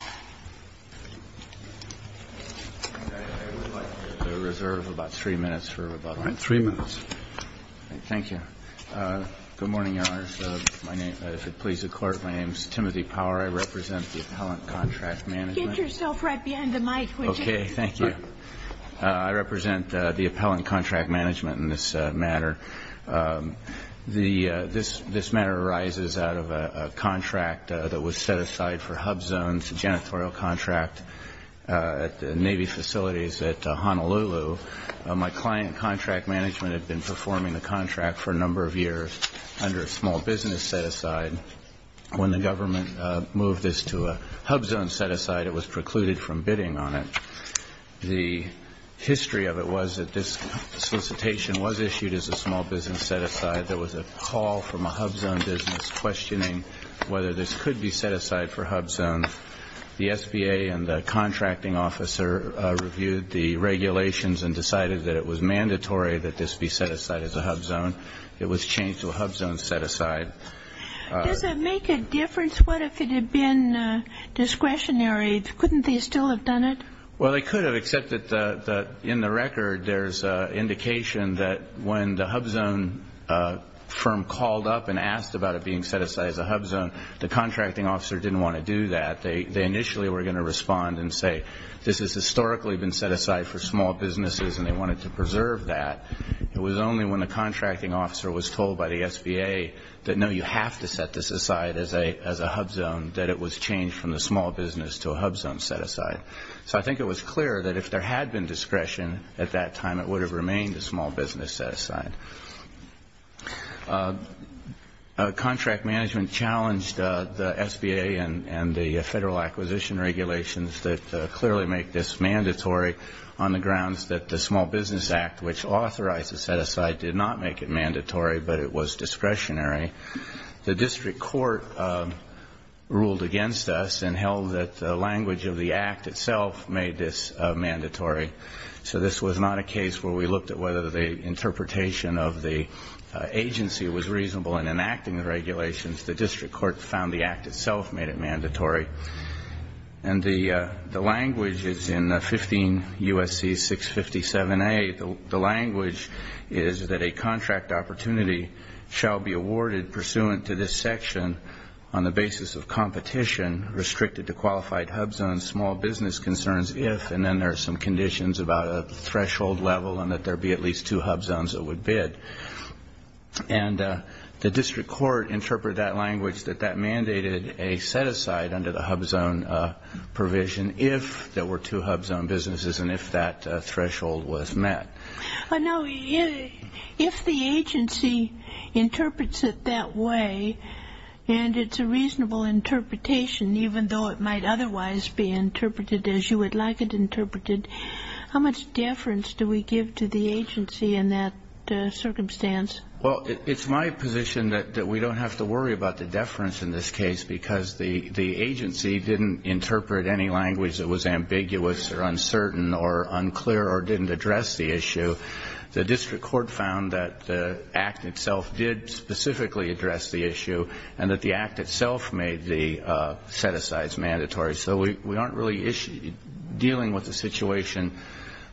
I would like to reserve about three minutes for rebuttal. Three minutes. Thank you. Good morning, Your Honors. If it pleases the Court, my name is Timothy Power. I represent the Appellant Contract Management. Get yourself right behind the mic, would you? Okay, thank you. I represent the Appellant Contract Management in this matter. This matter arises out of a contract that was set aside for HUBZones, a janitorial contract at Navy facilities at Honolulu. My client, Contract Management, had been performing the contract for a number of years under a small business set-aside. When the government moved this to a HUBZone set-aside, it was precluded from bidding on it. The history of it was that this solicitation was issued as a small business set-aside. There was a call from a HUBZone business questioning whether this could be set-aside for HUBZones. The SBA and the contracting officer reviewed the regulations and decided that it was mandatory that this be set-aside as a HUBZone. It was changed to a HUBZone set-aside. Does it make a difference? What if it had been discretionary? Couldn't they still have done it? Well, they could have, except that in the record there's indication that when the HUBZone firm called up and asked about it being set-aside as a HUBZone, the contracting officer didn't want to do that. They initially were going to respond and say this has historically been set-aside for small businesses and they wanted to preserve that. It was only when the contracting officer was told by the SBA that, no, you have to set this aside as a HUBZone, that it was changed from the small business to a HUBZone set-aside. So I think it was clear that if there had been discretion at that time, it would have remained a small business set-aside. Contract management challenged the SBA and the federal acquisition regulations that clearly make this mandatory on the grounds that the Small Business Act, which authorized the set-aside, did not make it mandatory, but it was discretionary. The district court ruled against us and held that the language of the Act itself made this mandatory. So this was not a case where we looked at whether the interpretation of the agency was reasonable in enacting the regulations. The district court found the Act itself made it mandatory. And the language is in 15 U.S.C. 657A. The language is that a contract opportunity shall be awarded pursuant to this section on the basis of competition restricted to qualified HUBZones, small business concerns if, and then there are some conditions about a threshold level and that there be at least two HUBZones that would bid. And the district court interpreted that language that that mandated a set-aside under the HUBZone provision if there were two HUBZone businesses and if that threshold was met. Now, if the agency interprets it that way and it's a reasonable interpretation, even though it might otherwise be interpreted as you would like it interpreted, how much deference do we give to the agency in that circumstance? Well, it's my position that we don't have to worry about the deference in this case because the agency didn't interpret any language that was ambiguous or uncertain or unclear or didn't address the issue. The district court found that the Act itself did specifically address the issue and that the Act itself made the set-asides mandatory. So we aren't really dealing with a situation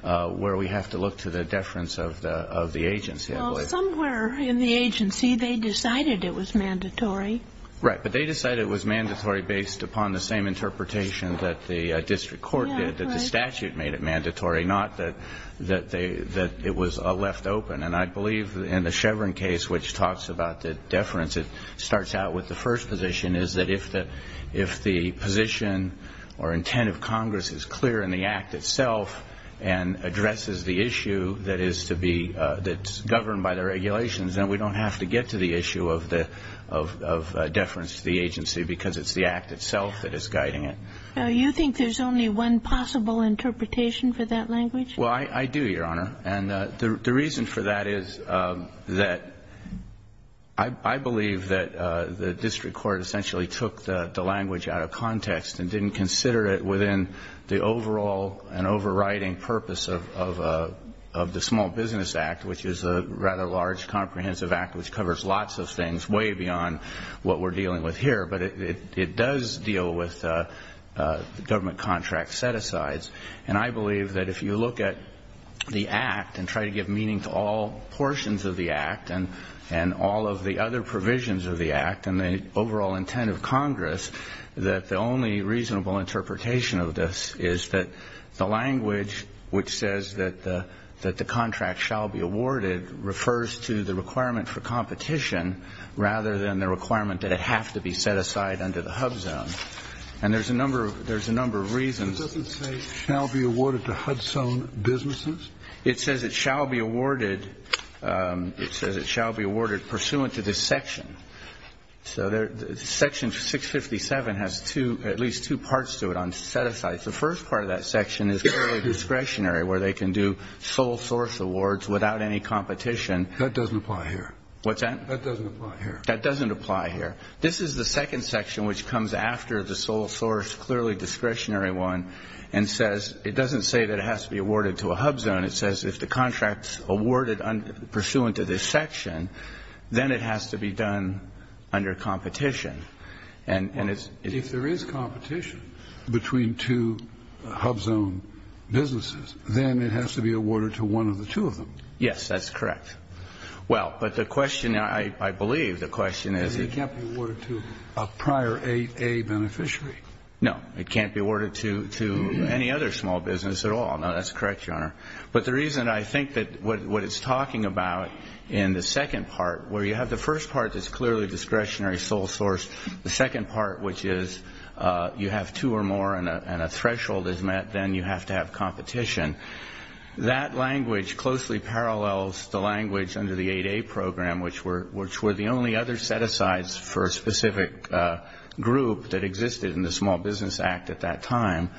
where we have to look to the deference of the agency. Well, somewhere in the agency they decided it was mandatory. Right. But they decided it was mandatory based upon the same interpretation that the district court did, that the statute made it mandatory, not that it was a left open. And I believe in the Chevron case, which talks about the deference, it starts out with the first position, is that if the position or intent of Congress is clear in the Act itself and addresses the issue that is governed by the regulations, then we don't have to get to the issue of deference to the agency because it's the Act itself that is guiding it. Now, you think there's only one possible interpretation for that language? Well, I do, Your Honor. And the reason for that is that I believe that the district court essentially took the language out of context and didn't consider it within the overall and overriding purpose of the Small Business Act, which is a rather large, comprehensive Act which covers lots of things, way beyond what we're dealing with here. But it does deal with government contract set-asides. And I believe that if you look at the Act and try to give meaning to all portions of the Act and all of the other provisions of the Act and the overall intent of Congress, that the only reasonable interpretation of this is that the language which says that the contract shall be awarded refers to the requirement for competition rather than the requirement that it have to be set aside under the HUBZone. And there's a number of reasons. It doesn't say shall be awarded to HUDZone businesses? It says it shall be awarded pursuant to this section. So Section 657 has at least two parts to it on set-asides. The first part of that section is clearly discretionary, where they can do sole source awards without any competition. That doesn't apply here. What's that? That doesn't apply here. That doesn't apply here. This is the second section which comes after the sole source, clearly discretionary one, and says it doesn't say that it has to be awarded to a HUBZone. It says if the contract's awarded pursuant to this section, then it has to be done under competition. And it's ---- If there is competition between two HUBZone businesses, then it has to be awarded to one of the two of them. Yes, that's correct. Well, but the question, I believe the question is ---- It can't be awarded to a prior 8A beneficiary. No. It can't be awarded to any other small business at all. No, that's correct, Your Honor. But the reason I think that what it's talking about in the second part, where you have the first part that's clearly discretionary sole source, the second part which is you have two or more and a threshold is met, then you have to have competition, that language closely parallels the language under the 8A program, which were the only other set-asides for a specific group that existed in the Small Business Act at that time.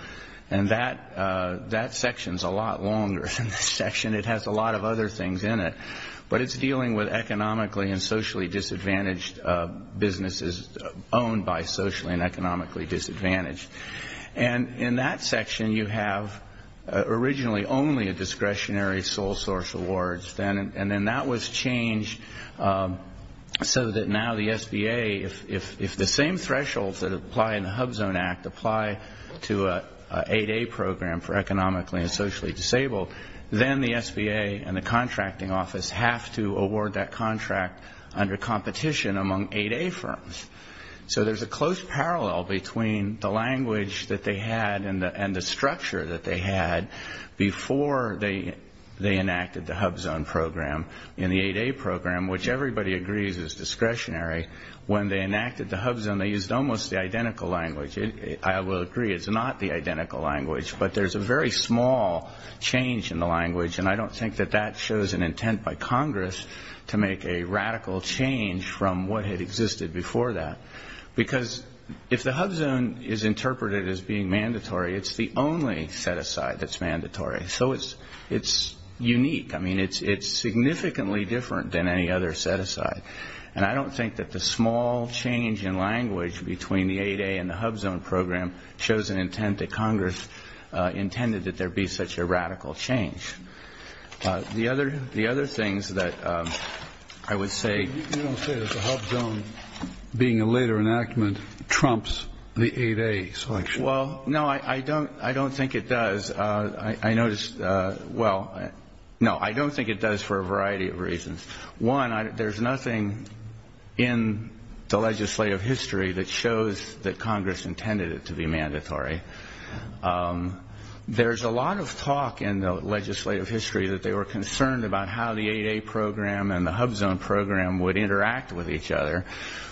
And that section's a lot longer than this section. It has a lot of other things in it. But it's dealing with economically and socially disadvantaged businesses owned by socially and economically disadvantaged. And in that section, you have originally only a discretionary sole source awards. And then that was changed so that now the SBA, if the same thresholds that apply in the HUBZone Act apply to an 8A program for economically and socially disabled, then the SBA and the contracting office have to award that contract under competition among 8A firms. So there's a close parallel between the language that they had and the structure that they had before they enacted the HUBZone program. In the 8A program, which everybody agrees is discretionary, when they enacted the HUBZone, they used almost the identical language. I will agree it's not the identical language, but there's a very small change in the language, and I don't think that that shows an intent by Congress to make a radical change from what had existed before that. Because if the HUBZone is interpreted as being mandatory, it's the only set-aside that's mandatory. So it's unique. I mean, it's significantly different than any other set-aside. And I don't think that the small change in language between the 8A and the HUBZone program shows an intent that Congress intended that there be such a radical change. The other things that I would say... You don't say that the HUBZone, being a later enactment, trumps the 8A selection. Well, no, I don't think it does. I noticed... Well, no, I don't think it does for a variety of reasons. One, there's nothing in the legislative history that shows that Congress intended it to be mandatory. There's a lot of talk in the legislative history that they were concerned about how the 8A program and the HUBZone program would interact with each other.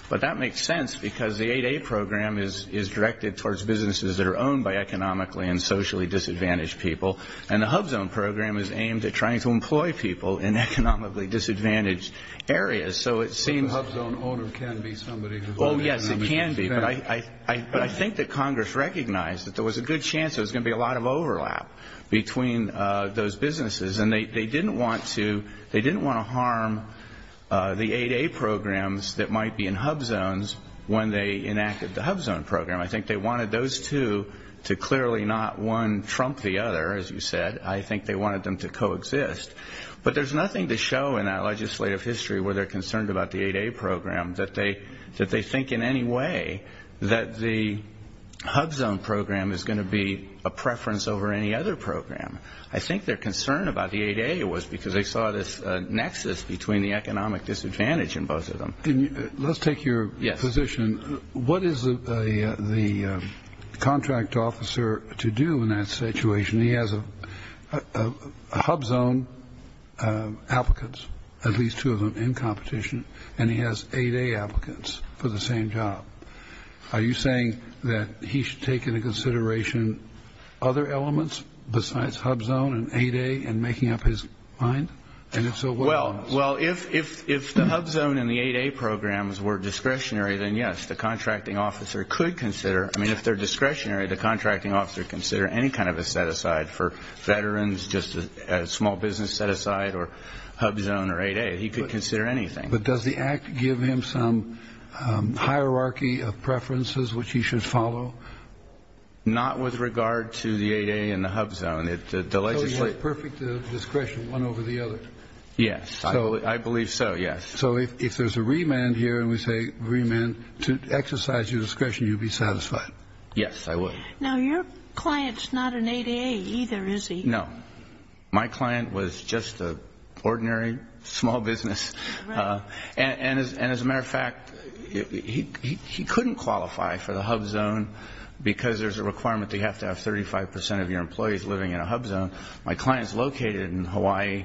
But that makes sense, because the 8A program is directed towards businesses that are owned by economically and socially disadvantaged people, and the HUBZone program is aimed at trying to employ people in economically disadvantaged areas. But the HUBZone owner can be somebody who's owned... Oh, yes, it can be. But I think that Congress recognized that there was a good chance there was going to be a lot of overlap between those businesses, and they didn't want to harm the 8A programs that might be in HUBZones when they enacted the HUBZone program. I think they wanted those two to clearly not one trump the other, as you said. I think they wanted them to coexist. But there's nothing to show in that legislative history where they're concerned about the 8A program that they think in any way that the HUBZone program is going to be a preference over any other program. I think their concern about the 8A was because they saw this nexus between the economic disadvantage in both of them. Let's take your position. What is the contract officer to do in that situation? He has HUBZone applicants, at least two of them, in competition, and he has 8A applicants for the same job. Are you saying that he should take into consideration other elements besides HUBZone and 8A in making up his mind? Well, if the HUBZone and the 8A programs were discretionary, then yes, the contracting officer could consider. I mean, if they're discretionary, the contracting officer could consider any kind of a set-aside for veterans, just a small business set-aside, or HUBZone or 8A. He could consider anything. But does the Act give him some hierarchy of preferences which he should follow? Not with regard to the 8A and the HUBZone. So he has perfect discretion, one over the other? Yes. I believe so, yes. So if there's a remand here, and we say remand to exercise your discretion, you'd be satisfied? Yes, I would. Now, your client's not an 8A either, is he? No. My client was just an ordinary small business. And as a matter of fact, he couldn't qualify for the HUBZone because there's a requirement that you have to have 35% of your employees living in a HUBZone. My client's located in Hawaii,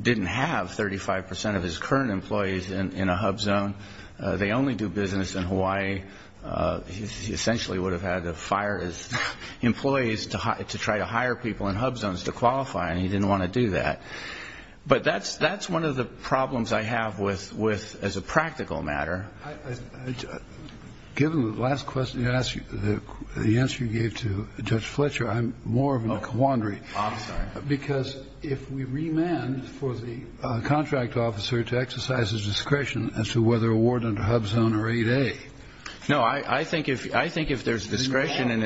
didn't have 35% of his current employees in a HUBZone. They only do business in Hawaii. He essentially would have had to fire his employees to try to hire people in HUBZones to qualify, and he didn't want to do that. But that's one of the problems I have as a practical matter. Given the last question you asked, the answer you gave to Judge Fletcher, I'm more of a quandary. I'm sorry. Because if we remand for the contract officer to exercise his discretion as to whether awarding a HUBZone or 8A. No, I think if there's discretion and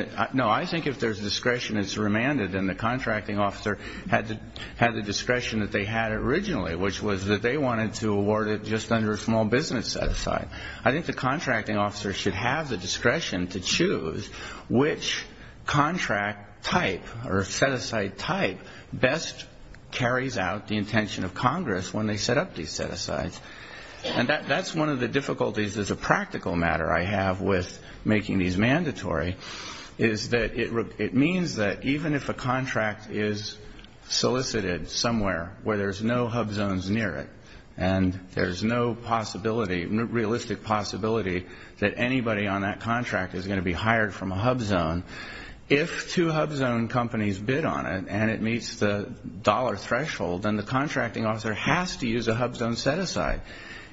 it's remanded and the contracting officer had the discretion that they had originally, which was that they wanted to award it just under a small business set-aside, I think the contracting officer should have the discretion to choose which contract type or set-aside type best carries out the intention of Congress when they set up these set-asides. And that's one of the difficulties as a practical matter I have with making these mandatory, is that it means that even if a contract is solicited somewhere where there's no HUBZones near it and there's no possibility, realistic possibility, that anybody on that contract is going to be hired from a HUBZone, if two HUBZone companies bid on it and it meets the dollar threshold, then the contracting officer has to use a HUBZone set-aside,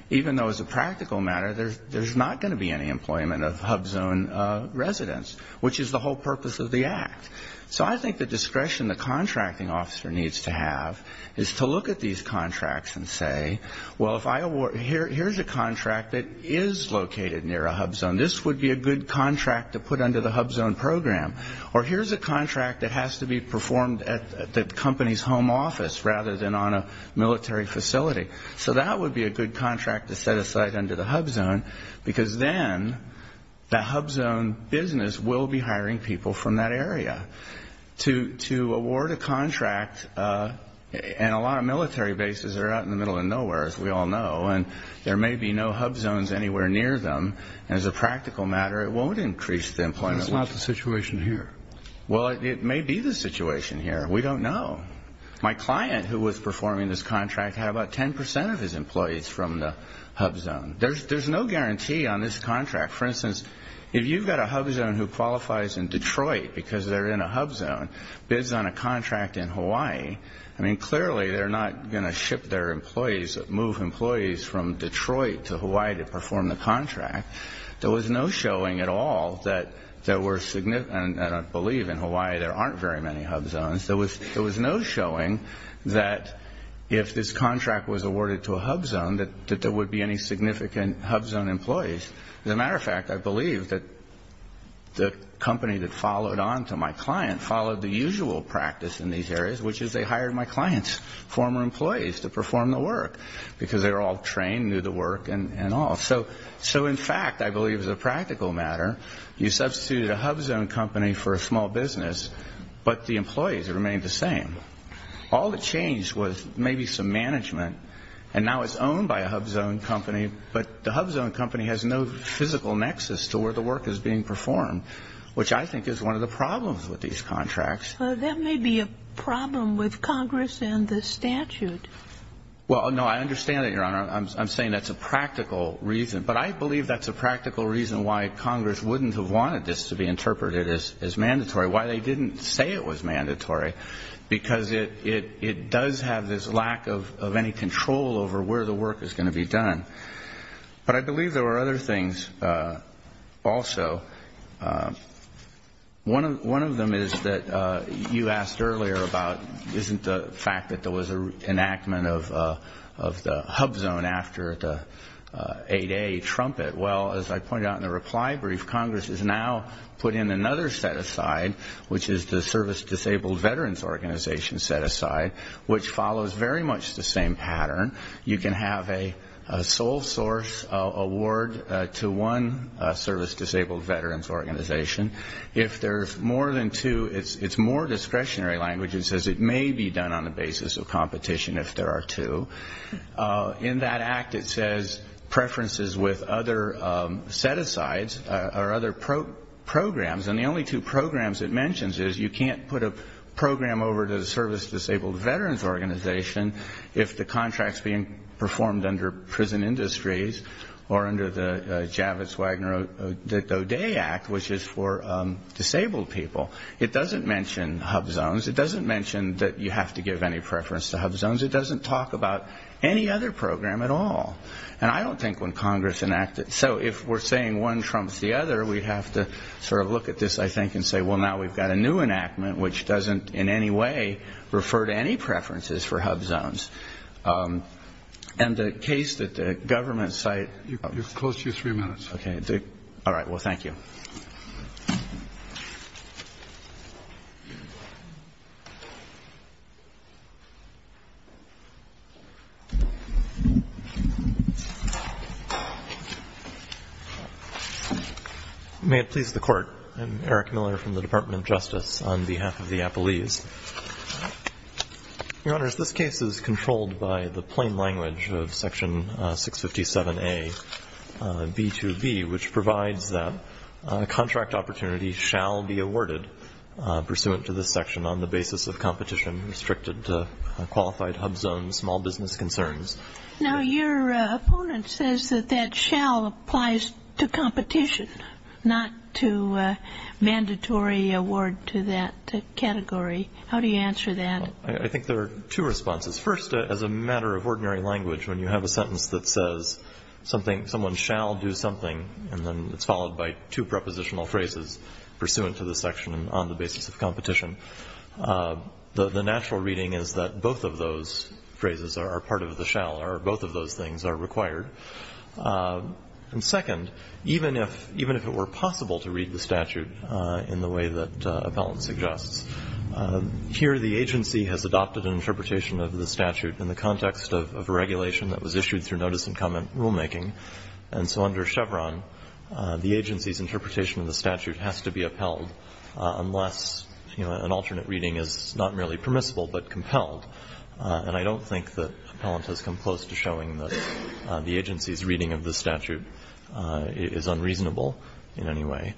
even though as a practical matter there's not going to be any employment of HUBZone residents, which is the whole purpose of the Act. So I think the discretion the contracting officer needs to have is to look at these contracts and say, well, here's a contract that is located near a HUBZone. This would be a good contract to put under the HUBZone program. Or here's a contract that has to be performed at the company's home office rather than on a military facility. So that would be a good contract to set aside under the HUBZone, because then the HUBZone business will be hiring people from that area. To award a contract, and a lot of military bases are out in the middle of nowhere, as we all know, and there may be no HUBZones anywhere near them, and as a practical matter it won't increase the employment. But that's not the situation here. Well, it may be the situation here. We don't know. My client who was performing this contract had about 10 percent of his employees from the HUBZone. There's no guarantee on this contract. For instance, if you've got a HUBZone who qualifies in Detroit because they're in a HUBZone, bids on a contract in Hawaii, I mean, clearly they're not going to ship their employees, move employees from Detroit to Hawaii to perform the contract. There was no showing at all that there were significant, and I believe in Hawaii there aren't very many HUBZones, there was no showing that if this contract was awarded to a HUBZone, that there would be any significant HUBZone employees. As a matter of fact, I believe that the company that followed on to my client followed the usual practice in these areas, which is they hired my client's former employees to perform the work, because they were all trained, knew the work and all. So in fact, I believe as a practical matter, you substituted a HUBZone company for a small business, but the employees remained the same. All that changed was maybe some management, and now it's owned by a HUBZone company, but the HUBZone company has no physical nexus to where the work is being performed, which I think is one of the problems with these contracts. That may be a problem with Congress and the statute. Well, no, I understand that, Your Honor. I'm saying that's a practical reason, but I believe that's a practical reason why Congress wouldn't have wanted this to be interpreted as mandatory, why they didn't say it was mandatory, because it does have this lack of any control over where the work is going to be done. But I believe there were other things also. One of them is that you asked earlier about, isn't the fact that there was an enactment of the HUBZone after the 8A trumpet. Well, as I pointed out in the reply brief, Congress has now put in another set-aside, which is the Service Disabled Veterans Organization set-aside, which follows very much the same pattern. You can have a sole source award to one Service Disabled Veterans Organization. If there's more than two, it's more discretionary language. It says it may be done on the basis of competition if there are two. In that act, it says preferences with other set-asides or other programs, and the only two programs it mentions is you can't put a program over to the Service Disabled Veterans Organization if the contract's being performed under prison industries or under the Javits-Wagner-O'Day Act, which is for disabled people. It doesn't mention HUBZones. It doesn't mention that you have to give any preference to HUBZones. It doesn't talk about any other program at all. And I don't think when Congress enacted it. So if we're saying one trumps the other, we have to sort of look at this, I think, and say, well, now we've got a new enactment, which doesn't in any way refer to any preferences for HUBZones. And the case that the government cited. Close to your three minutes. Okay. All right. Well, thank you. May it please the Court. I'm Eric Miller from the Department of Justice on behalf of the Appellees. Your Honors, this case is controlled by the plain language of Section 657A, B2B, which provides that contract opportunity shall be awarded pursuant to this section on the basis of competition restricted to qualified HUBZones, small business concerns. Now, your opponent says that that shall applies to competition, not to mandatory award to that category. How do you answer that? I think there are two responses. First, as a matter of ordinary language, when you have a sentence that says someone shall do something, and then it's followed by two prepositional phrases pursuant to the section on the basis of competition, the natural reading is that both of those phrases are part of the shall, or both of those things are required. And second, even if it were possible to read the statute in the way that Appellant suggests, here the agency has adopted an interpretation of the statute in the context of a regulation that was issued through notice and comment rulemaking. And so under Chevron, the agency's interpretation of the statute has to be upheld unless, you know, an alternate reading is not merely permissible but compelled. And I don't think that Appellant has come close to showing that the agency's reading of the statute is unreasonable in any way.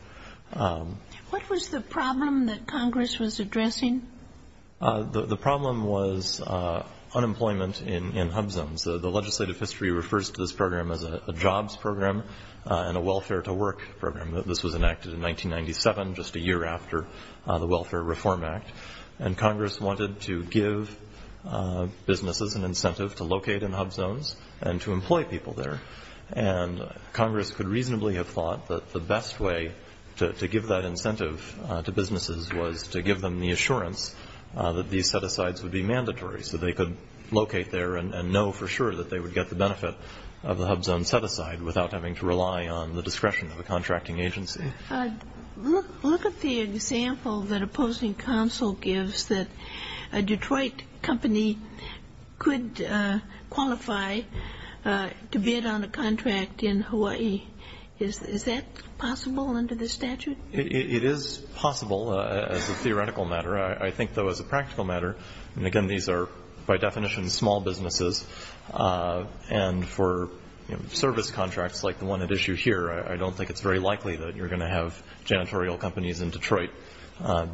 What was the problem that Congress was addressing? The problem was unemployment in HUB Zones. The legislative history refers to this program as a jobs program and a welfare-to-work program. This was enacted in 1997, just a year after the Welfare Reform Act. And Congress wanted to give businesses an incentive to locate in HUB Zones and to employ people there. And Congress could reasonably have thought that the best way to give that incentive to businesses was to give them the assurance that these set-asides would be mandatory so they could locate there and know for sure that they would get the benefit of the HUB Zone set-aside without having to rely on the discretion of a contracting agency. Look at the example that opposing counsel gives that a Detroit company could qualify to bid on a contract in Hawaii. Is that possible under this statute? It is possible as a theoretical matter. I think, though, as a practical matter, and again, these are by definition small businesses, and for service contracts like the one at issue here, I don't think it's very likely that you're going to have janitorial companies in Detroit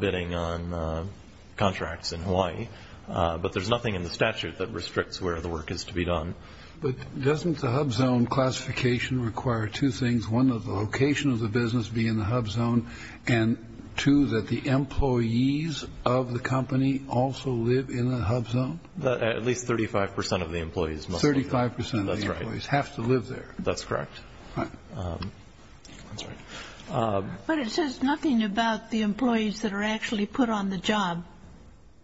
bidding on contracts in Hawaii. But there's nothing in the statute that restricts where the work is to be done. But doesn't the HUB Zone classification require two things, one, that the location of the business be in the HUB Zone, and two, that the employees of the company also live in the HUB Zone? At least 35 percent of the employees must live there. Thirty-five percent of the employees have to live there. That's correct. But it says nothing about the employees that are actually put on the job.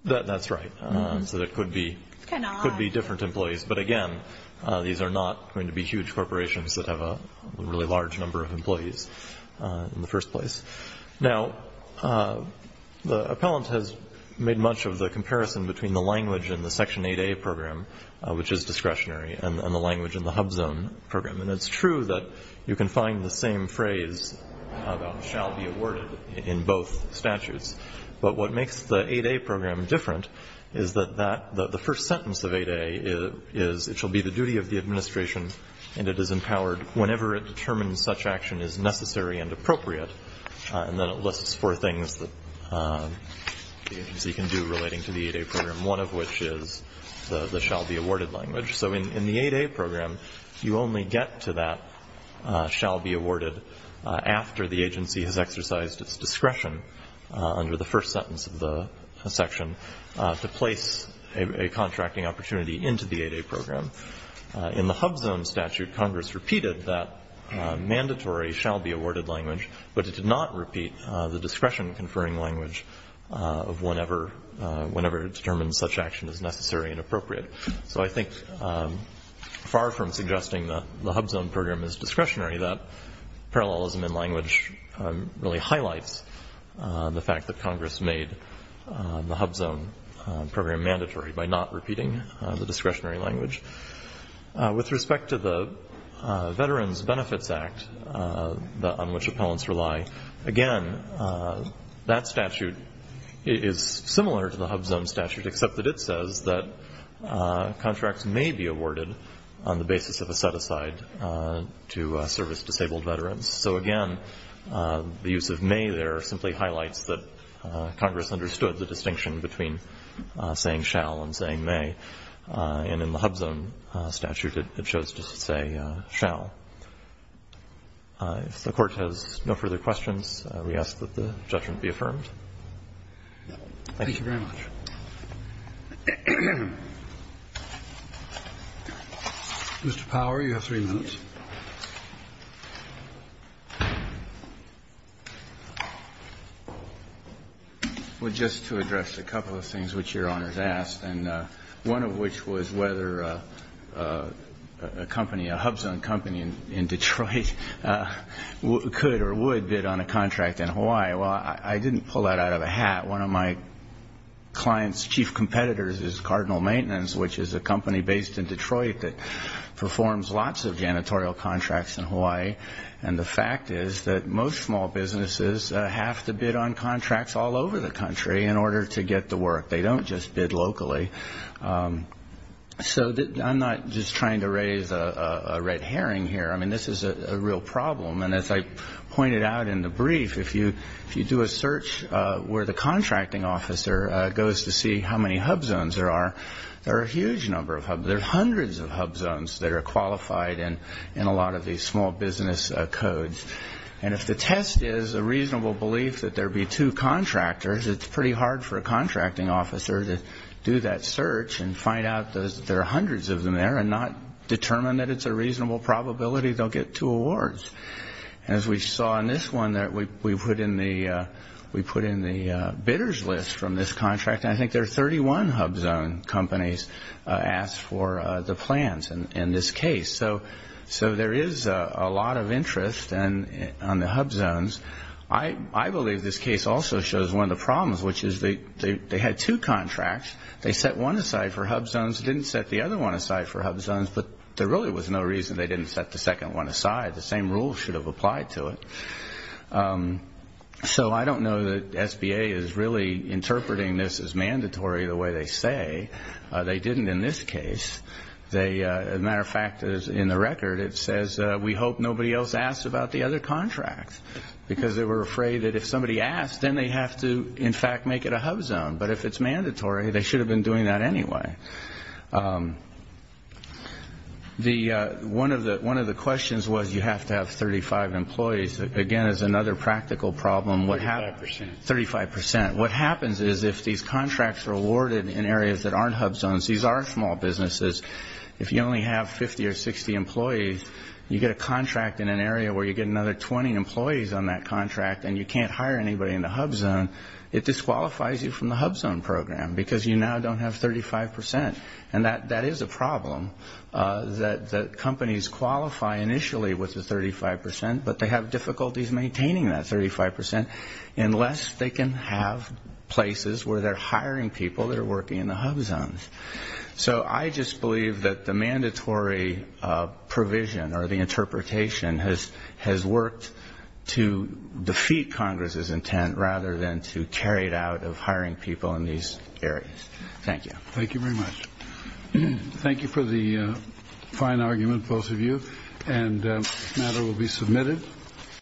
That's right. So there could be different employees. But again, these are not going to be huge corporations that have a really large number of employees in the first place. Now, the appellant has made much of the comparison between the language in the Section 8A program, which is discretionary, and the language in the HUB Zone program. And it's true that you can find the same phrase about shall be awarded in both statutes. But what makes the 8A program different is that the first sentence of 8A is, it shall be the duty of the administration, and it is empowered whenever it determines such action is necessary and appropriate. And then it lists four things that the agency can do relating to the 8A program, one of which is the shall be awarded language. So in the 8A program, you only get to that shall be awarded after the agency has exercised its discretion under the first sentence of the section to place a contracting opportunity into the 8A program. In the HUB Zone statute, Congress repeated that mandatory shall be awarded language, but it did not repeat the discretion conferring language of whenever it determines such action is necessary and appropriate. So I think far from suggesting that the HUB Zone program is discretionary, that parallelism in language really highlights the fact that Congress made the HUB Zone program mandatory by not repeating the discretionary language. With respect to the Veterans Benefits Act on which appellants rely, again, that statute is similar to the HUB Zone statute, except that it says that contracts may be awarded on the basis of a set-aside to service disabled veterans. So, again, the use of may there simply highlights that Congress understood the distinction between saying shall and saying may, and in the HUB Zone statute it chose to say shall. If the Court has no further questions, we ask that the judgment be affirmed. Thank you very much. Mr. Power, you have three minutes. Well, just to address a couple of things which Your Honors asked, and one of which was whether a company, a HUB Zone company in Detroit could or would bid on a contract in Hawaii. Well, I didn't pull that out of a hat. One of my clients' chief competitors is Cardinal Maintenance, which is a company based in Detroit that performs lots of janitorial contracts in Hawaii, and the fact is that most small businesses have to bid on contracts all over the country in order to get the work. They don't just bid locally. So I'm not just trying to raise a red herring here. I mean, this is a real problem, and as I pointed out in the brief, if you do a search where the contracting officer goes to see how many HUB Zones there are, there are a huge number of HUB Zones. There are hundreds of HUB Zones that are qualified in a lot of these small business codes. And if the test is a reasonable belief that there be two contractors, it's pretty hard for a contracting officer to do that search and find out that there are hundreds of them there and not determine that it's a reasonable probability they'll get two awards. As we saw in this one, we put in the bidder's list from this contract, and I think there are 31 HUB Zone companies asked for the plans in this case. So there is a lot of interest on the HUB Zones. I believe this case also shows one of the problems, which is they had two contracts. They set one aside for HUB Zones, didn't set the other one aside for HUB Zones, but there really was no reason they didn't set the second one aside. The same rules should have applied to it. So I don't know that SBA is really interpreting this as mandatory the way they say. They didn't in this case. As a matter of fact, in the record it says, we hope nobody else asks about the other contracts, because they were afraid that if somebody asked, then they have to, in fact, make it a HUB Zone. But if it's mandatory, they should have been doing that anyway. One of the questions was you have to have 35 employees. Again, it's another practical problem. Thirty-five percent. Thirty-five percent. What happens is if these contracts are awarded in areas that aren't HUB Zones, these are small businesses, if you only have 50 or 60 employees, you get a contract in an area where you get another 20 employees on that contract and you can't hire anybody in the HUB Zone, it disqualifies you from the HUB Zone program, because you now don't have 35 percent. And that is a problem, that companies qualify initially with the 35 percent, but they have difficulties maintaining that 35 percent, unless they can have places where they're hiring people that are working in the HUB Zones. So I just believe that the mandatory provision or the interpretation has worked to defeat Congress's intent rather than to carry it out of hiring people in these areas. Thank you. Thank you very much. Thank you for the fine argument, both of you. And the matter will be submitted.